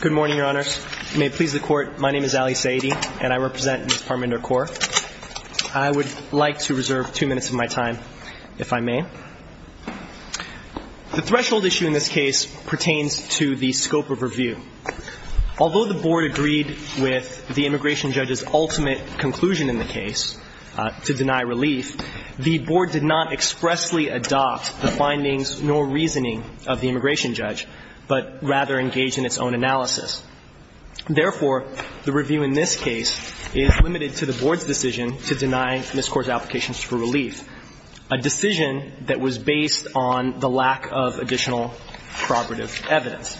Good morning, Your Honors. May it please the Court, my name is Ali Saeedi, and I represent Ms. Parminder Kaur. I would like to reserve two minutes of my time, if I may. The threshold issue in this case pertains to the scope of review. Although the Board agreed with the immigration judge's ultimate conclusion in the case, to deny relief, the Board did not expressly adopt the findings nor reasoning of the immigration judge, but rather engaged in its own analysis. Therefore, the review in this case is limited to the Board's decision to deny Ms. Kaur's application for relief, a decision that was based on the lack of additional corroborative evidence.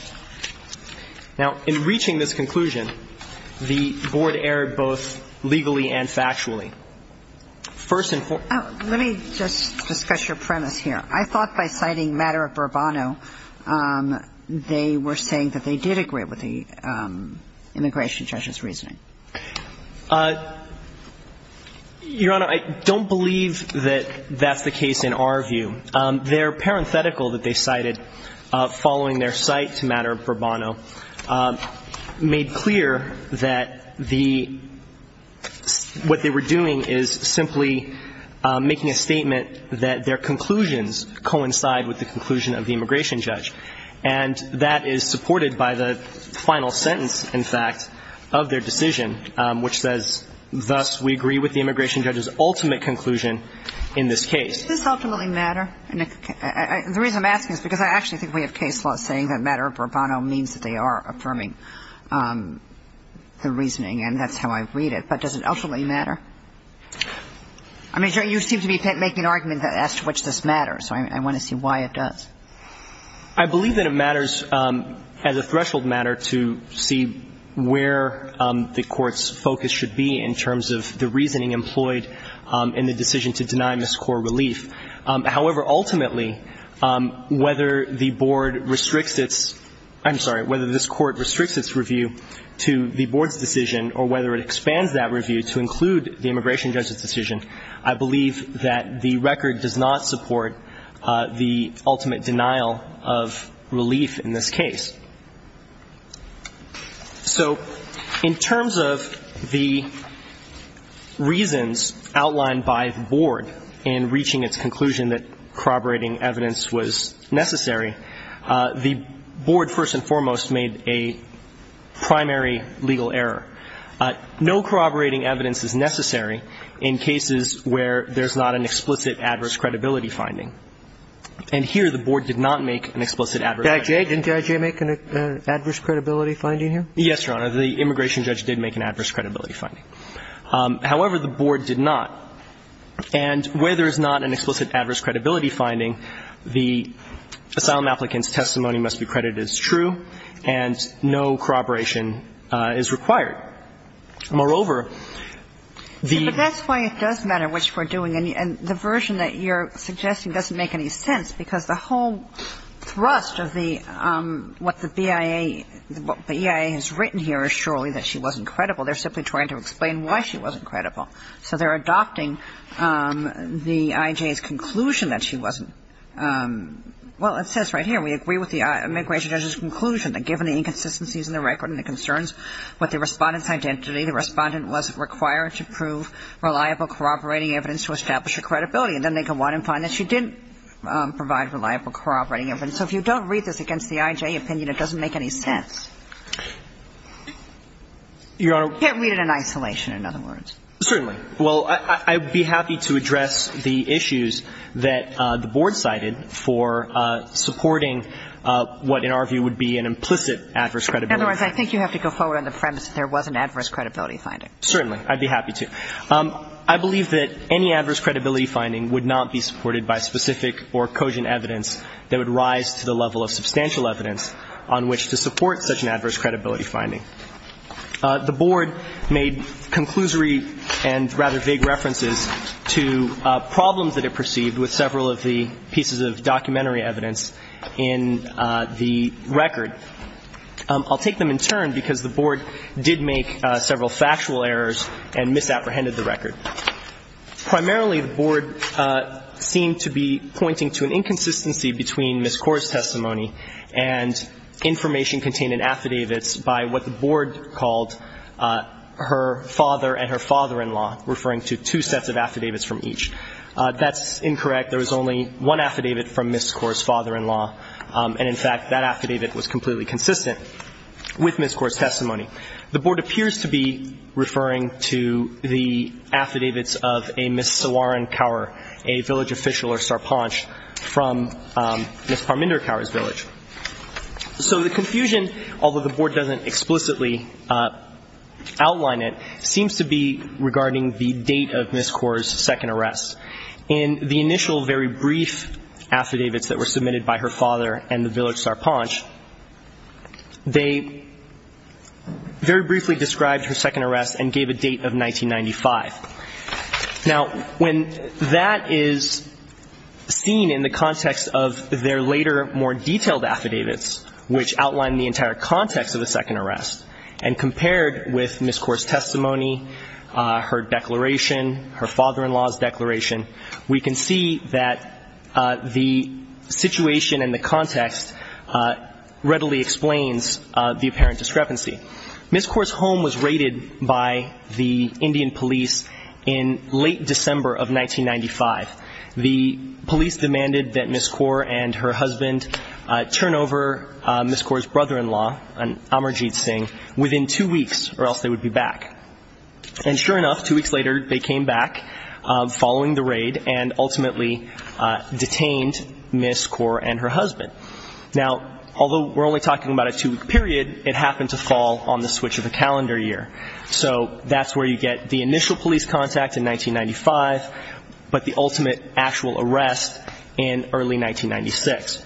Now, in reaching this conclusion, the Board erred both legally and factually. First and fore- Let me just discuss your premise here. I thought by citing matter of Bourbono, they were saying that they did agree with the immigration judge's reasoning. Your Honor, I don't believe that that's the case in our view. Their parenthetical that they cited following their cite to matter of Bourbono made clear that the – what they were doing is simply making a statement that their conclusions coincide with the conclusion of the immigration judge. And that is supported by the final sentence, in fact, of their decision, which says, thus, we agree with the immigration judge's ultimate conclusion in this case. Does this ultimately matter? The reason I'm asking is because I actually think we have case laws saying that matter of Bourbono means that they are affirming the reasoning, and that's how I read it. But does it ultimately matter? I mean, you seem to be making an argument as to which this matters, so I want to see why it does. I believe that it matters as a threshold matter to see where the Court's focus should be in terms of the reasoning employed in the decision to deny miscore relief. However, ultimately, whether the Board restricts its – I'm sorry, whether this Court restricts its review to the Board's decision or whether it expands that review to include the immigration judge's decision, I believe that the record does not support the ultimate denial of relief in this case. So in terms of the reasons outlined by the Board in reaching its conclusion that corroborating evidence was necessary, the Board, first and foremost, made a primary legal error. No corroborating evidence is necessary in cases where there's not an explicit adverse credibility finding. And here, the Board did not make an explicit adverse – Did I.J. – didn't I.J. make an adverse credibility finding here? Yes, Your Honor. The immigration judge did make an adverse credibility finding. However, the Board did not. And where there's not an explicit adverse credibility finding, the asylum applicant's testimony must be credited as true, and no corroboration is required. Moreover, the – But that's why it does matter which we're doing. And the version that you're suggesting doesn't make any sense, because the whole thrust of the – what the BIA – what the BIA has written here is surely that she wasn't credible. They're simply trying to explain why she wasn't credible. So they're adopting the – I.J.'s conclusion that she wasn't – well, it says right here, we agree with the immigration judge's conclusion that given the inconsistencies in the record and the concerns with the Respondent's identity, the Respondent was required to prove reliable corroborating evidence to establish her credibility. And then they go on and find that she didn't provide reliable corroborating evidence. So if you don't read this against the I.J. opinion, it doesn't make any sense. Your Honor. You can't read it in isolation, in other words. Certainly. Well, I'd be happy to address the issues that the Board cited for supporting what in our view would be an implicit adverse credibility. In other words, I think you have to go forward on the premise that there was an adverse credibility finding. Certainly. I'd be happy to. I believe that any adverse credibility finding would not be supported by specific or cogent evidence that would rise to the level of substantial evidence on which to support such an adverse credibility finding. The Board made conclusory and rather vague references to problems that it perceived with several of the pieces of documentary evidence in the record. I'll take them in turn, because the Board did make several factual errors and misapprehended the record. Primarily, the Board seemed to be pointing to an inconsistency between Ms. Corr's testimony and information contained in affidavits by what the Board called her father and her father-in-law, referring to two sets of affidavits from each. That's incorrect. There was only one affidavit from Ms. Corr's father-in-law. And, in fact, that affidavit was completely consistent with Ms. Corr's testimony. The Board appears to be referring to the affidavits of a Ms. Cioran Cower, a village official or sarpanch, from Ms. Parminder Cower's village. So the confusion, although the Board doesn't explicitly outline it, seems to be regarding the date of Ms. Corr's second arrest. In the initial very brief affidavits that were submitted by her father and the village sarpanch, they very briefly described her second arrest and gave a date of 1995. Now, when that is seen in the context of their later, more detailed affidavits, which outline the entire context of the second arrest and compared with Ms. Corr's testimony, her declaration, her father-in-law's declaration, we can see that the situation and the context readily explains the apparent discrepancy. Ms. Corr's home was raided by the Indian police in late December of 1995. The police demanded that Ms. Corr and her husband turn over Ms. Corr's brother-in-law, Amarjeet Singh, within two weeks or else they would be back. And sure enough, two weeks later, they came back following the raid and ultimately detained Ms. Corr and her husband. Now, although we're only talking about a two-week period, it happened to fall on the switch of a calendar year. So that's where you get the initial police contact in 1995, but the ultimate actual arrest in early 1996.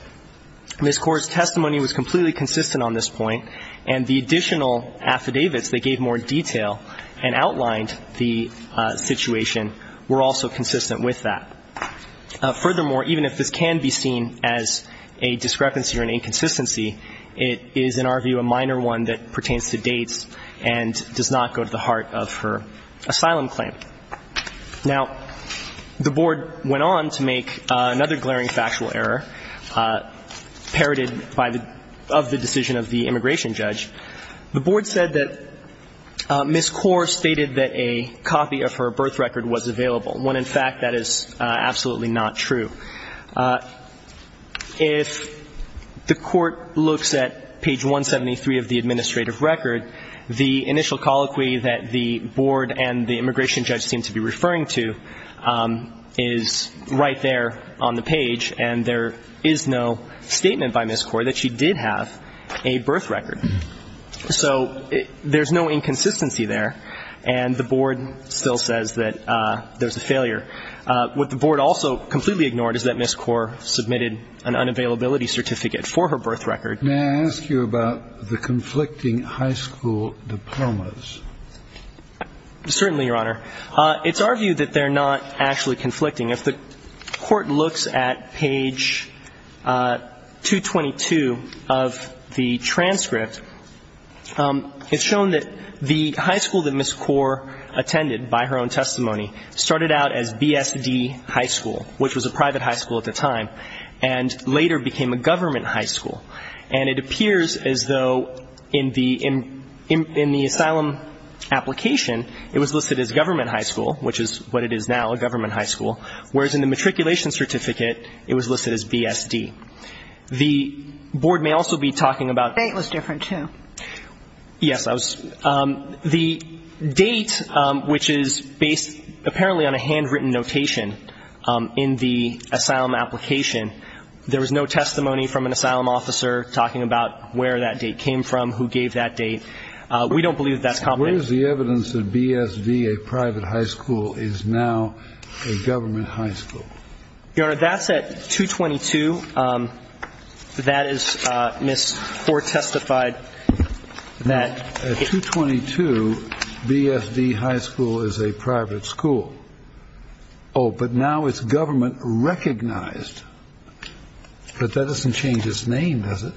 Ms. Corr's testimony was completely consistent on this point, and the additional affidavits that gave more detail and outlined the situation were also consistent with that. Furthermore, even if this can be seen as a discrepancy or an inconsistency, it is, in our view, a minor one that pertains to dates and does not go to the heart of her asylum claim. Now, the Board went on to make another glaring factual error parroted by the – of the decision of the immigration judge. The Board said that Ms. Corr stated that a copy of her birth record was available, when in fact that is absolutely not true. If the Court looks at page 173 of the administrative record, the initial colloquy that the Board and the immigration judge seem to be referring to is right there on the page, and there is no statement by Ms. Corr that she did have a birth record. So there's no inconsistency there, and the Board still says that there's a failure. What the Board also completely ignored is that Ms. Corr submitted an unavailability certificate for her birth record. May I ask you about the conflicting high school diplomas? Certainly, Your Honor. It's argued that they're not actually conflicting. If the Court looks at page 222 of the transcript, it's shown that the high school that Ms. Corr attended by her own testimony started out as B.S.D. High School, which was a private high school at the time, and later became a government high school. And it appears as though in the – in the asylum application, it was listed as government high school, which is what it is now, a government high school, whereas in the matriculation certificate, it was listed as B.S.D. The Board may also be talking about – State was different, too. Yes, I was – the date, which is based apparently on a handwritten notation in the asylum application, there was no testimony from an asylum officer talking about where that date came from, who gave that date. We don't believe that's conflicting. Where is the evidence that B.S.D., a private high school, is now a government high school? Your Honor, that's at 222. That is – Ms. Corr testified that – At 222, B.S.D. High School is a private school. Oh, but now it's government recognized. But that doesn't change its name, does it?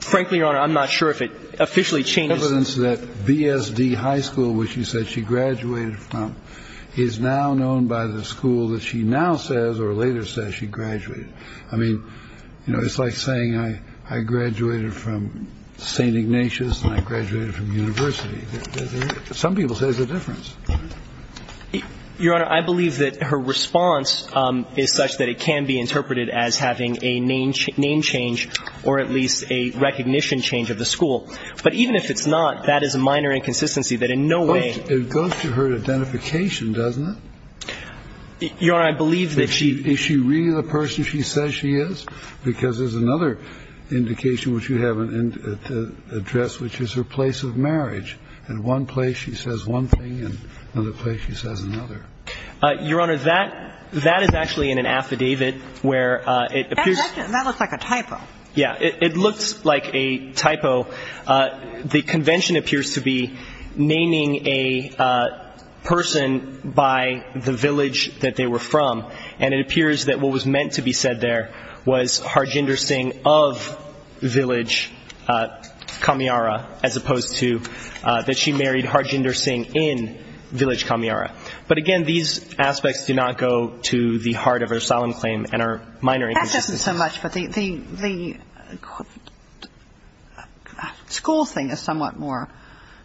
Frankly, Your Honor, I'm not sure if it officially changes – The evidence that B.S.D. High School, which you said she graduated from, is now known by the school that she now says or later says she graduated. I mean, you know, it's like saying I graduated from St. Ignatius and I graduated from university. Some people say it's a difference. Your Honor, I believe that her response is such that it can be interpreted as having a name change or at least a recognition change of the school. But even if it's not, that is a minor inconsistency that in no way – But it goes to her identification, doesn't it? Your Honor, I believe that she – Is she really the person she says she is? Because there's another indication which you haven't addressed, which is her place of marriage. In one place, she says one thing. In another place, she says another. Your Honor, that – that is actually in an affidavit where it appears – That looks like a typo. Yeah, it looks like a typo. The convention appears to be naming a person by the village that they were from, and it appears that what was meant to be said there was Harjinder Singh of village Kamyara as opposed to that she married Harjinder Singh in village Kamyara. But again, these aspects do not go to the heart of her asylum claim and are minor inconsistencies. Thank you so much. But the – the school thing is somewhat more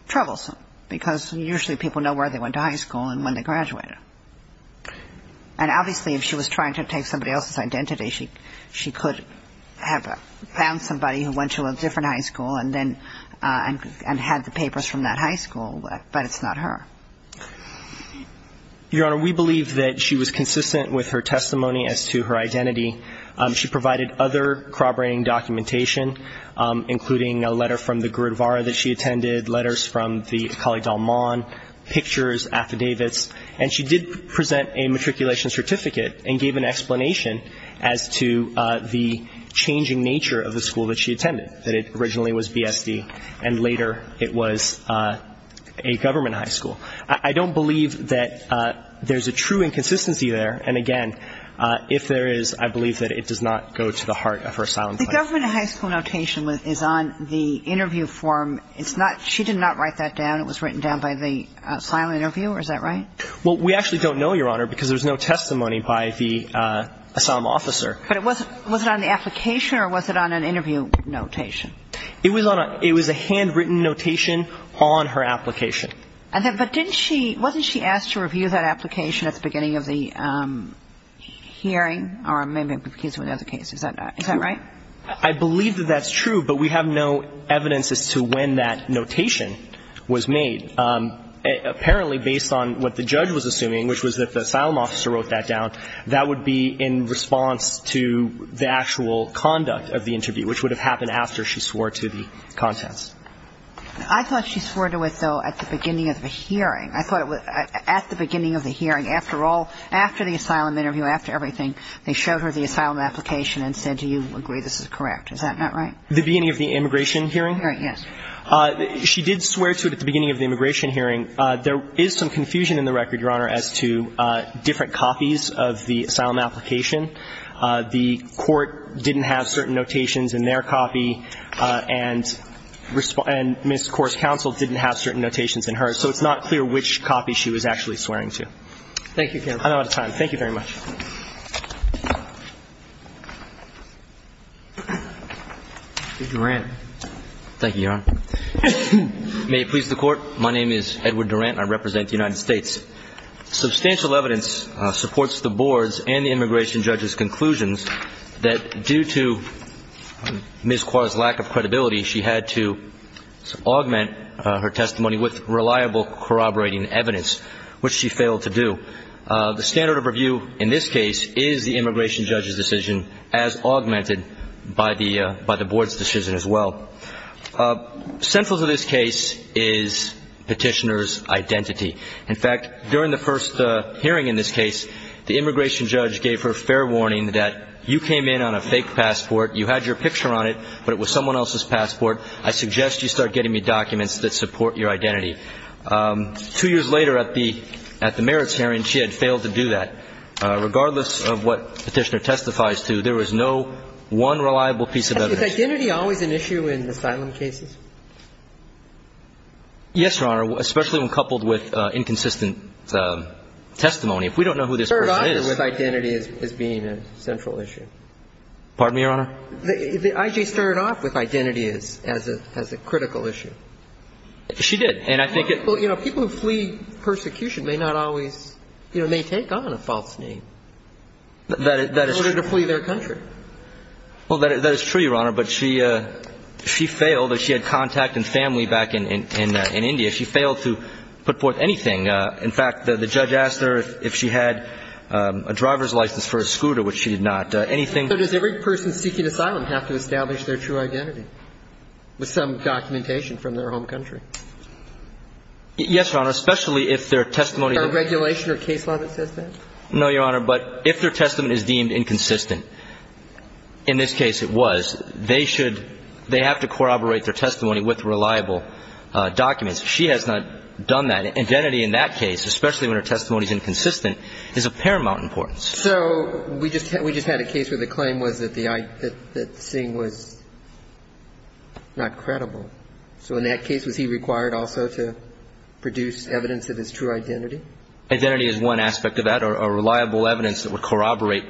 troublesome because usually people know where they went to high school and when they graduated. And obviously, if she was trying to take somebody else's identity, she could have found somebody who went to a different high school and then – and had the papers from that high school, but it's not her. Your Honor, we believe that she was consistent with her testimony as to her She provided other corroborating documentation, including a letter from the Gurdwara that she attended, letters from the Kali Dalman, pictures, affidavits. And she did present a matriculation certificate and gave an explanation as to the changing nature of the school that she attended, that it originally was BSD, and later it was a government high school. I don't believe that there's a true inconsistency there. And again, if there is, I believe that it does not go to the heart of her asylum claim. The government high school notation is on the interview form. It's not – she did not write that down. It was written down by the asylum interviewer. Is that right? Well, we actually don't know, Your Honor, because there's no testimony by the asylum officer. But it wasn't – was it on the application or was it on an interview notation? It was on a – it was a handwritten notation on her application. But didn't she – wasn't she asked to review that application at the beginning of the hearing or maybe it was a case with other cases? Is that right? I believe that that's true, but we have no evidence as to when that notation was made. Apparently, based on what the judge was assuming, which was that the asylum officer wrote that down, that would be in response to the actual conduct of the interview, which would have happened after she swore to the contents. I thought she swore to it, though, at the beginning of the hearing. I thought it was at the beginning of the hearing. After all – after the asylum interview, after everything, they showed her the asylum application and said, do you agree this is correct? Is that not right? The beginning of the immigration hearing? Yes. She did swear to it at the beginning of the immigration hearing. There is some confusion in the record, Your Honor, as to different copies of the asylum application. The court didn't have certain notations in their copy and Ms. Kors's counsel didn't have certain notations in hers, so it's not clear which copy she was actually swearing to. Thank you, counsel. I'm out of time. Thank you very much. Mr. Durant. Thank you, Your Honor. May it please the Court, my name is Edward Durant and I represent the United States. Substantial evidence supports the Board's and the immigration judge's conclusions that due to Ms. Kors's lack of credibility, she had to augment her testimony with reliable corroborating evidence, which she failed to do. The standard of review in this case is the immigration judge's decision as augmented by the Board's decision as well. Sentence of this case is Petitioner's identity. In fact, during the first hearing in this case, the immigration judge gave her fair warning that you came in on a fake passport, you had your picture on it, but it was someone else's passport. I suggest you start getting me documents that support your identity. Two years later at the merits hearing, she had failed to do that. Regardless of what Petitioner testifies to, there was no one reliable piece of evidence. Was identity always an issue in asylum cases? Yes, Your Honor, especially when coupled with inconsistent testimony. If we don't know who this person is. It started off with identity as being a central issue. Pardon me, Your Honor? The I.G. started off with identity as a critical issue. She did, and I think it. People who flee persecution may not always, you know, may take on a false name. That is true. In order to flee their country. Well, that is true, Your Honor, but she failed. She had contact and family back in India. She failed to put forth anything. In fact, the judge asked her if she had a driver's license for a scooter, which she did not. Anything. But does every person seeking asylum have to establish their true identity with some documentation from their home country? Yes, Your Honor, especially if their testimony. A regulation or case law that says that? No, Your Honor, but if their testimony is deemed inconsistent. In this case, it was. They should. They have to corroborate their testimony with reliable documents. She has not done that. Identity in that case, especially when her testimony is inconsistent, is of paramount importance. So we just had a case where the claim was that Singh was not credible. So in that case, was he required also to produce evidence of his true identity? Identity is one aspect of that, or reliable evidence that would corroborate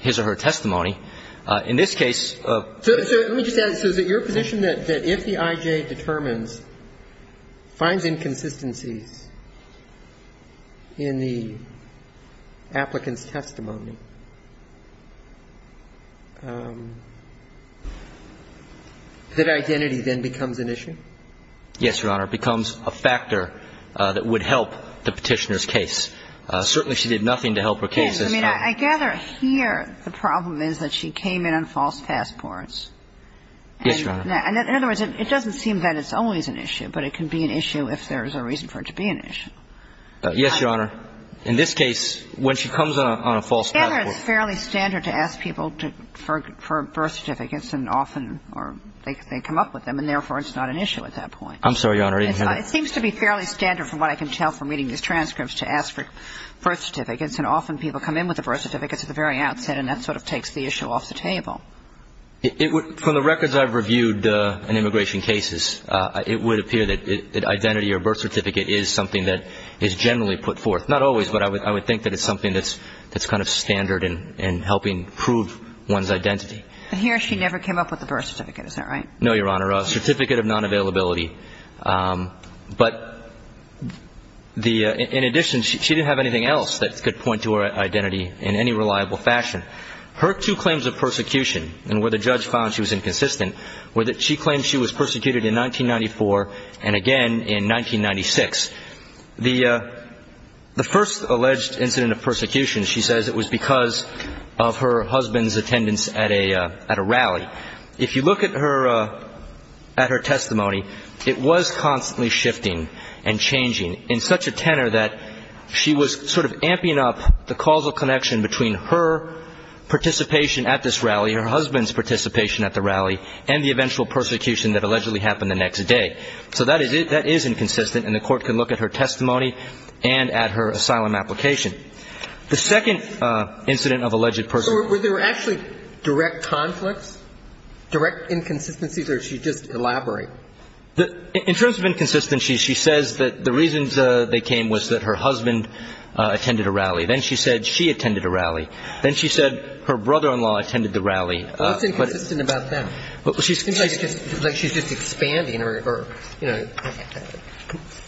his or her testimony. In this case. So let me just add. So is it your position that if the I.J. determines, finds inconsistencies in the applicant's testimony, that identity then becomes an issue? Yes, Your Honor. It becomes a factor that would help the Petitioner's case. Certainly, she did nothing to help her case. Yes. I mean, I gather here the problem is that she came in on false passports. Yes, Your Honor. In other words, it doesn't seem that it's always an issue, but it can be an issue if there's a reason for it to be an issue. Yes, Your Honor. In this case, when she comes on a false passport. I gather it's fairly standard to ask people for birth certificates, and often they come up with them, and therefore it's not an issue at that point. I'm sorry, Your Honor. It seems to be fairly standard from what I can tell from reading these transcripts to ask for birth certificates, and often people come in with the birth certificates at the very outset, and that sort of takes the issue off the table. From the records I've reviewed in immigration cases, it would appear that identity or birth certificate is something that is generally put forth. Not always, but I would think that it's something that's kind of standard in helping prove one's identity. But he or she never came up with a birth certificate, is that right? No, Your Honor. A certificate of non-availability. But in addition, she didn't have anything else that could point to her identity in any reliable fashion. Her two claims of persecution, and where the judge found she was inconsistent, were that she claimed she was persecuted in 1994 and again in 1996. The first alleged incident of persecution, she says it was because of her husband's attendance at a rally. If you look at her testimony, it was constantly shifting and changing in such a tenor that she was sort of amping up the causal connection between her participation at this rally, her husband's participation at the rally, and the eventual persecution that allegedly happened the next day. So that is inconsistent, and the Court can look at her testimony and at her asylum application. The second incident of alleged persecution. So were there actually direct conflicts, direct inconsistencies, or did she just elaborate? In terms of inconsistencies, she says that the reasons they came was that her husband attended a rally. Then she said she attended a rally. Then she said her brother-in-law attended the rally. What's inconsistent about that? It seems like she's just expanding or, you know,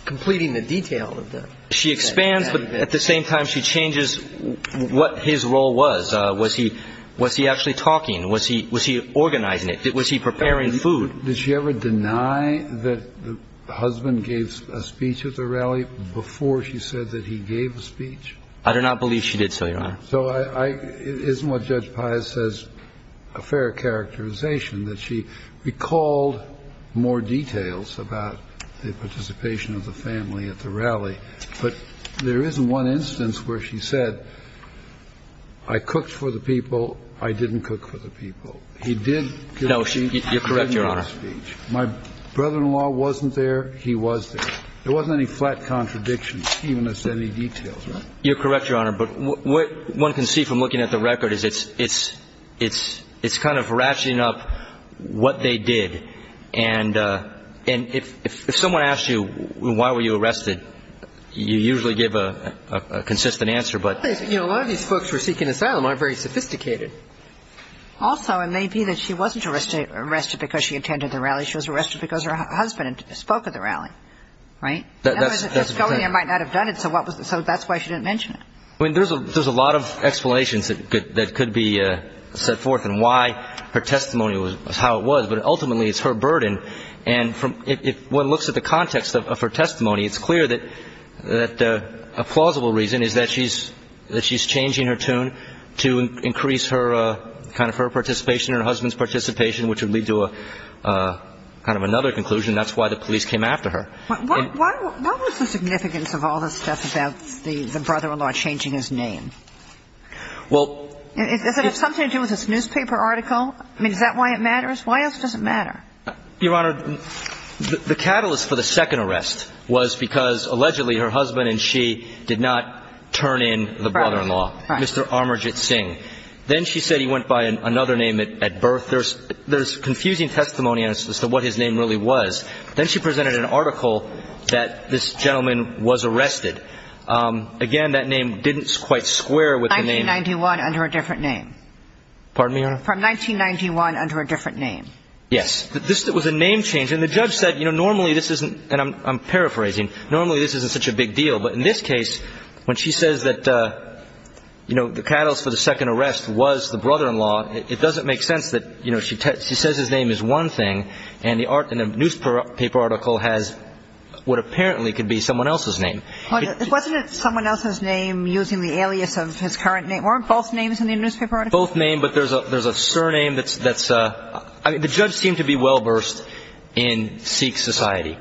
completing the detail. She expands, but at the same time she changes what his role was. Was he actually talking? Was he organizing it? Was he preparing food? Did she ever deny that the husband gave a speech at the rally before she said that he gave a speech? I do not believe she did so, Your Honor. So it isn't what Judge Pius says a fair characterization, that she recalled more details about the participation of the family at the rally. But there is one instance where she said, I cooked for the people. I didn't cook for the people. He did give a speech. No, you're correct, Your Honor. My brother-in-law wasn't there. He was there. There wasn't any flat contradiction, even as to any details. You're correct, Your Honor. But what one can see from looking at the record is it's kind of ratcheting up what they did. And if someone asks you, why were you arrested, you usually give a consistent answer. You know, a lot of these folks who are seeking asylum aren't very sophisticated. Also, it may be that she wasn't arrested because she attended the rally. She was arrested because her husband spoke at the rally, right? That's correct. Otherwise, if she was going there, she might not have done it, so that's why she didn't mention it. I mean, there's a lot of explanations that could be set forth in why her testimony was how it was, but ultimately, it's her burden. And if one looks at the context of her testimony, it's clear that a plausible reason is that she's changing her tune to increase her participation, her husband's participation, which would lead to a kind of another conclusion. That's why the police came after her. What was the significance of all this stuff about the brother-in-law changing his name? Well, it's something to do with this newspaper article? I mean, is that why it matters? Why else does it matter? Your Honor, the catalyst for the second arrest was because allegedly her husband and she did not turn in the brother-in-law, Mr. Amarjit Singh. Then she said he went by another name at birth. There's confusing testimony as to what his name really was. Then she presented an article that this gentleman was arrested. Again, that name didn't quite square with the name. 1991 under a different name. Pardon me, Your Honor? From 1991 under a different name. Yes. This was a name change. And the judge said, you know, normally this isn't, and I'm paraphrasing, normally this isn't such a big deal. But in this case, when she says that, you know, the catalyst for the second arrest was the brother-in-law, it doesn't make sense that, you know, she says his name is one thing, and the newspaper article has what apparently could be someone else's name. Wasn't it someone else's name using the alias of his current name? Weren't both names in the newspaper article? Both names, but there's a surname that's, I mean, the judge seemed to be well versed in Sikh society.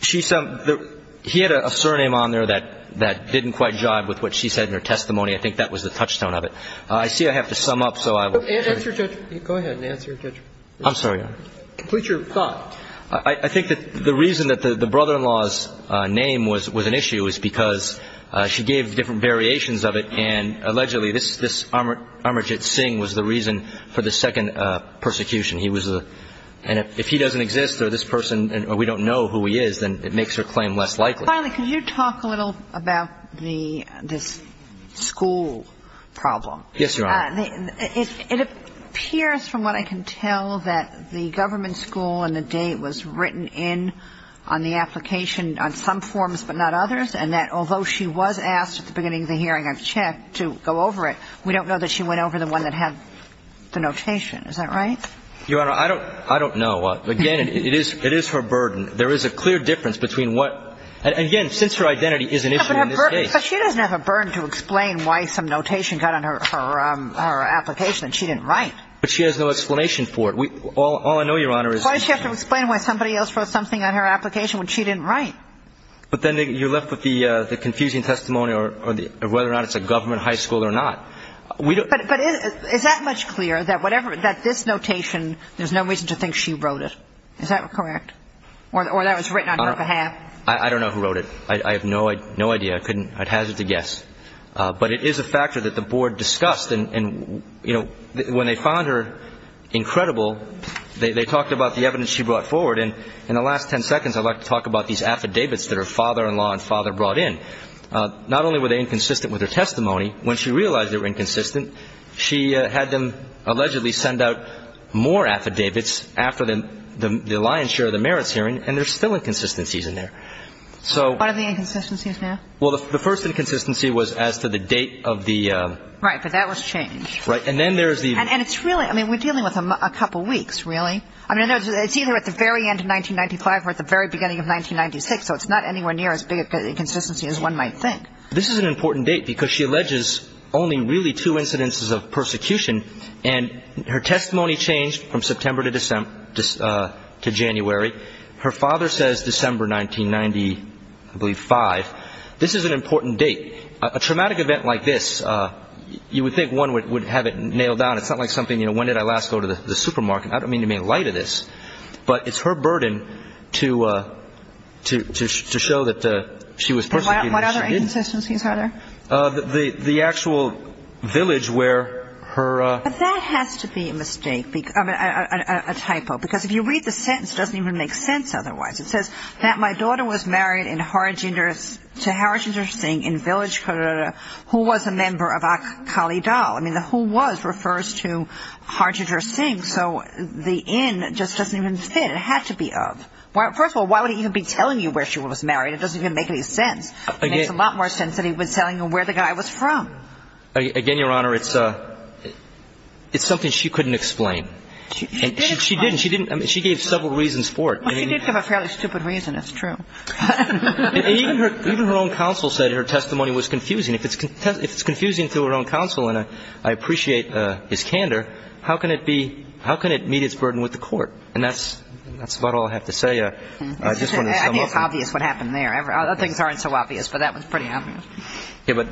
She said he had a surname on there that didn't quite jive with what she said in her testimony. I think that was the touchstone of it. I see I have to sum up, so I will. Answer, Judge. Go ahead and answer, Judge. I'm sorry, Your Honor. Complete your thought. I think that the reason that the brother-in-law's name was an issue was because she gave different variations of it, and allegedly this Amarjit Singh was the reason for the second persecution. He was the – and if he doesn't exist or this person – or we don't know who he is, then it makes her claim less likely. Finally, can you talk a little about the – this school problem? Yes, Your Honor. It appears from what I can tell that the government school on the day it was written on the application on some forms but not others, and that although she was asked at the beginning of the hearing of check to go over it, we don't know that she went over the one that had the notation. Is that right? Your Honor, I don't know. Again, it is her burden. There is a clear difference between what – and again, since her identity is an issue in this case. But she doesn't have a burden to explain why some notation got on her application that she didn't write. But she has no explanation for it. All I know, Your Honor, is – Why does she have to explain why somebody else wrote something on her application when she didn't write? But then you're left with the confusing testimony of whether or not it's a government high school or not. We don't – But is that much clear, that whatever – that this notation, there's no reason to think she wrote it? Is that correct? Or that it was written on her behalf? I don't know who wrote it. I have no idea. I couldn't – I'd hazard to guess. But it is a factor that the board discussed. And, you know, when they found her incredible, they talked about the evidence she brought forward. And in the last ten seconds, I'd like to talk about these affidavits that her father-in-law and father brought in. Not only were they inconsistent with her testimony, when she realized they were inconsistent, she had them allegedly send out more affidavits after the lion's share of the merits hearing, and there's still inconsistencies in there. So – What are the inconsistencies now? Well, the first inconsistency was as to the date of the – Right. But that was changed. Right. And then there's the – And it's really – I mean, we're dealing with a couple weeks, really. I mean, it's either at the very end of 1995 or at the very beginning of 1996. So it's not anywhere near as big of an inconsistency as one might think. This is an important date because she alleges only really two incidences of persecution. And her testimony changed from September to December – to January. Her father says December 1995. This is an important date. A traumatic event like this, you would think one would have it nailed down. It's not like something, you know, when did I last go to the supermarket. I don't mean to make light of this, but it's her burden to show that she was persecuted. What other inconsistencies are there? The actual village where her – But that has to be a mistake, a typo, because if you read the sentence, it doesn't even make sense otherwise. It says that my daughter was married to Harjinder Singh in Village, Colorado, who was a member of Akali Dal. I mean, the who was refers to Harjinder Singh. So the in just doesn't even fit. It had to be of. First of all, why would he even be telling you where she was married? It doesn't even make any sense. It makes a lot more sense that he was telling her where the guy was from. Again, Your Honor, it's something she couldn't explain. She did explain. She didn't. She gave several reasons for it. Well, she did give a fairly stupid reason. It's true. And even her own counsel said her testimony was confusing. If it's confusing to her own counsel, and I appreciate his candor, how can it be – how can it meet its burden with the court? And that's about all I have to say. I just wanted to sum up. I think it's obvious what happened there. Other things aren't so obvious, but that one's pretty obvious. Okay. But,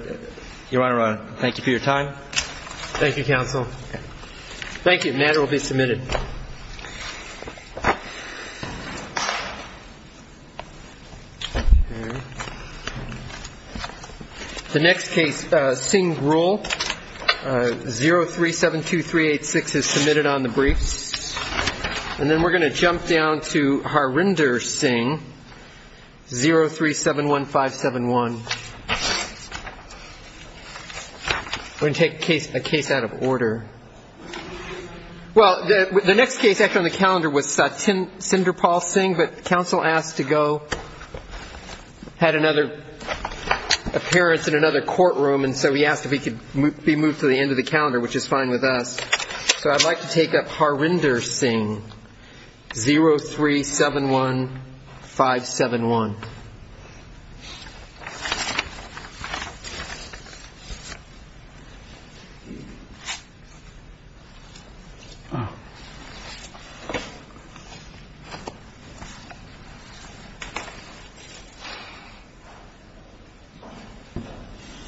Your Honor, thank you for your time. Thank you, counsel. Thank you. The matter will be submitted. The next case, Singh Rule, 0372386, is submitted on the briefs. And then we're going to jump down to Harinder Singh, 0371571. We're going to take a case out of order. Well, the next case on the calendar was Sinderpal Singh, but counsel asked to go, had another appearance in another courtroom, and so he asked if he could be moved to the end of the calendar, which is fine with us. So I'd like to take up Harinder Singh, 0371571. Thank you.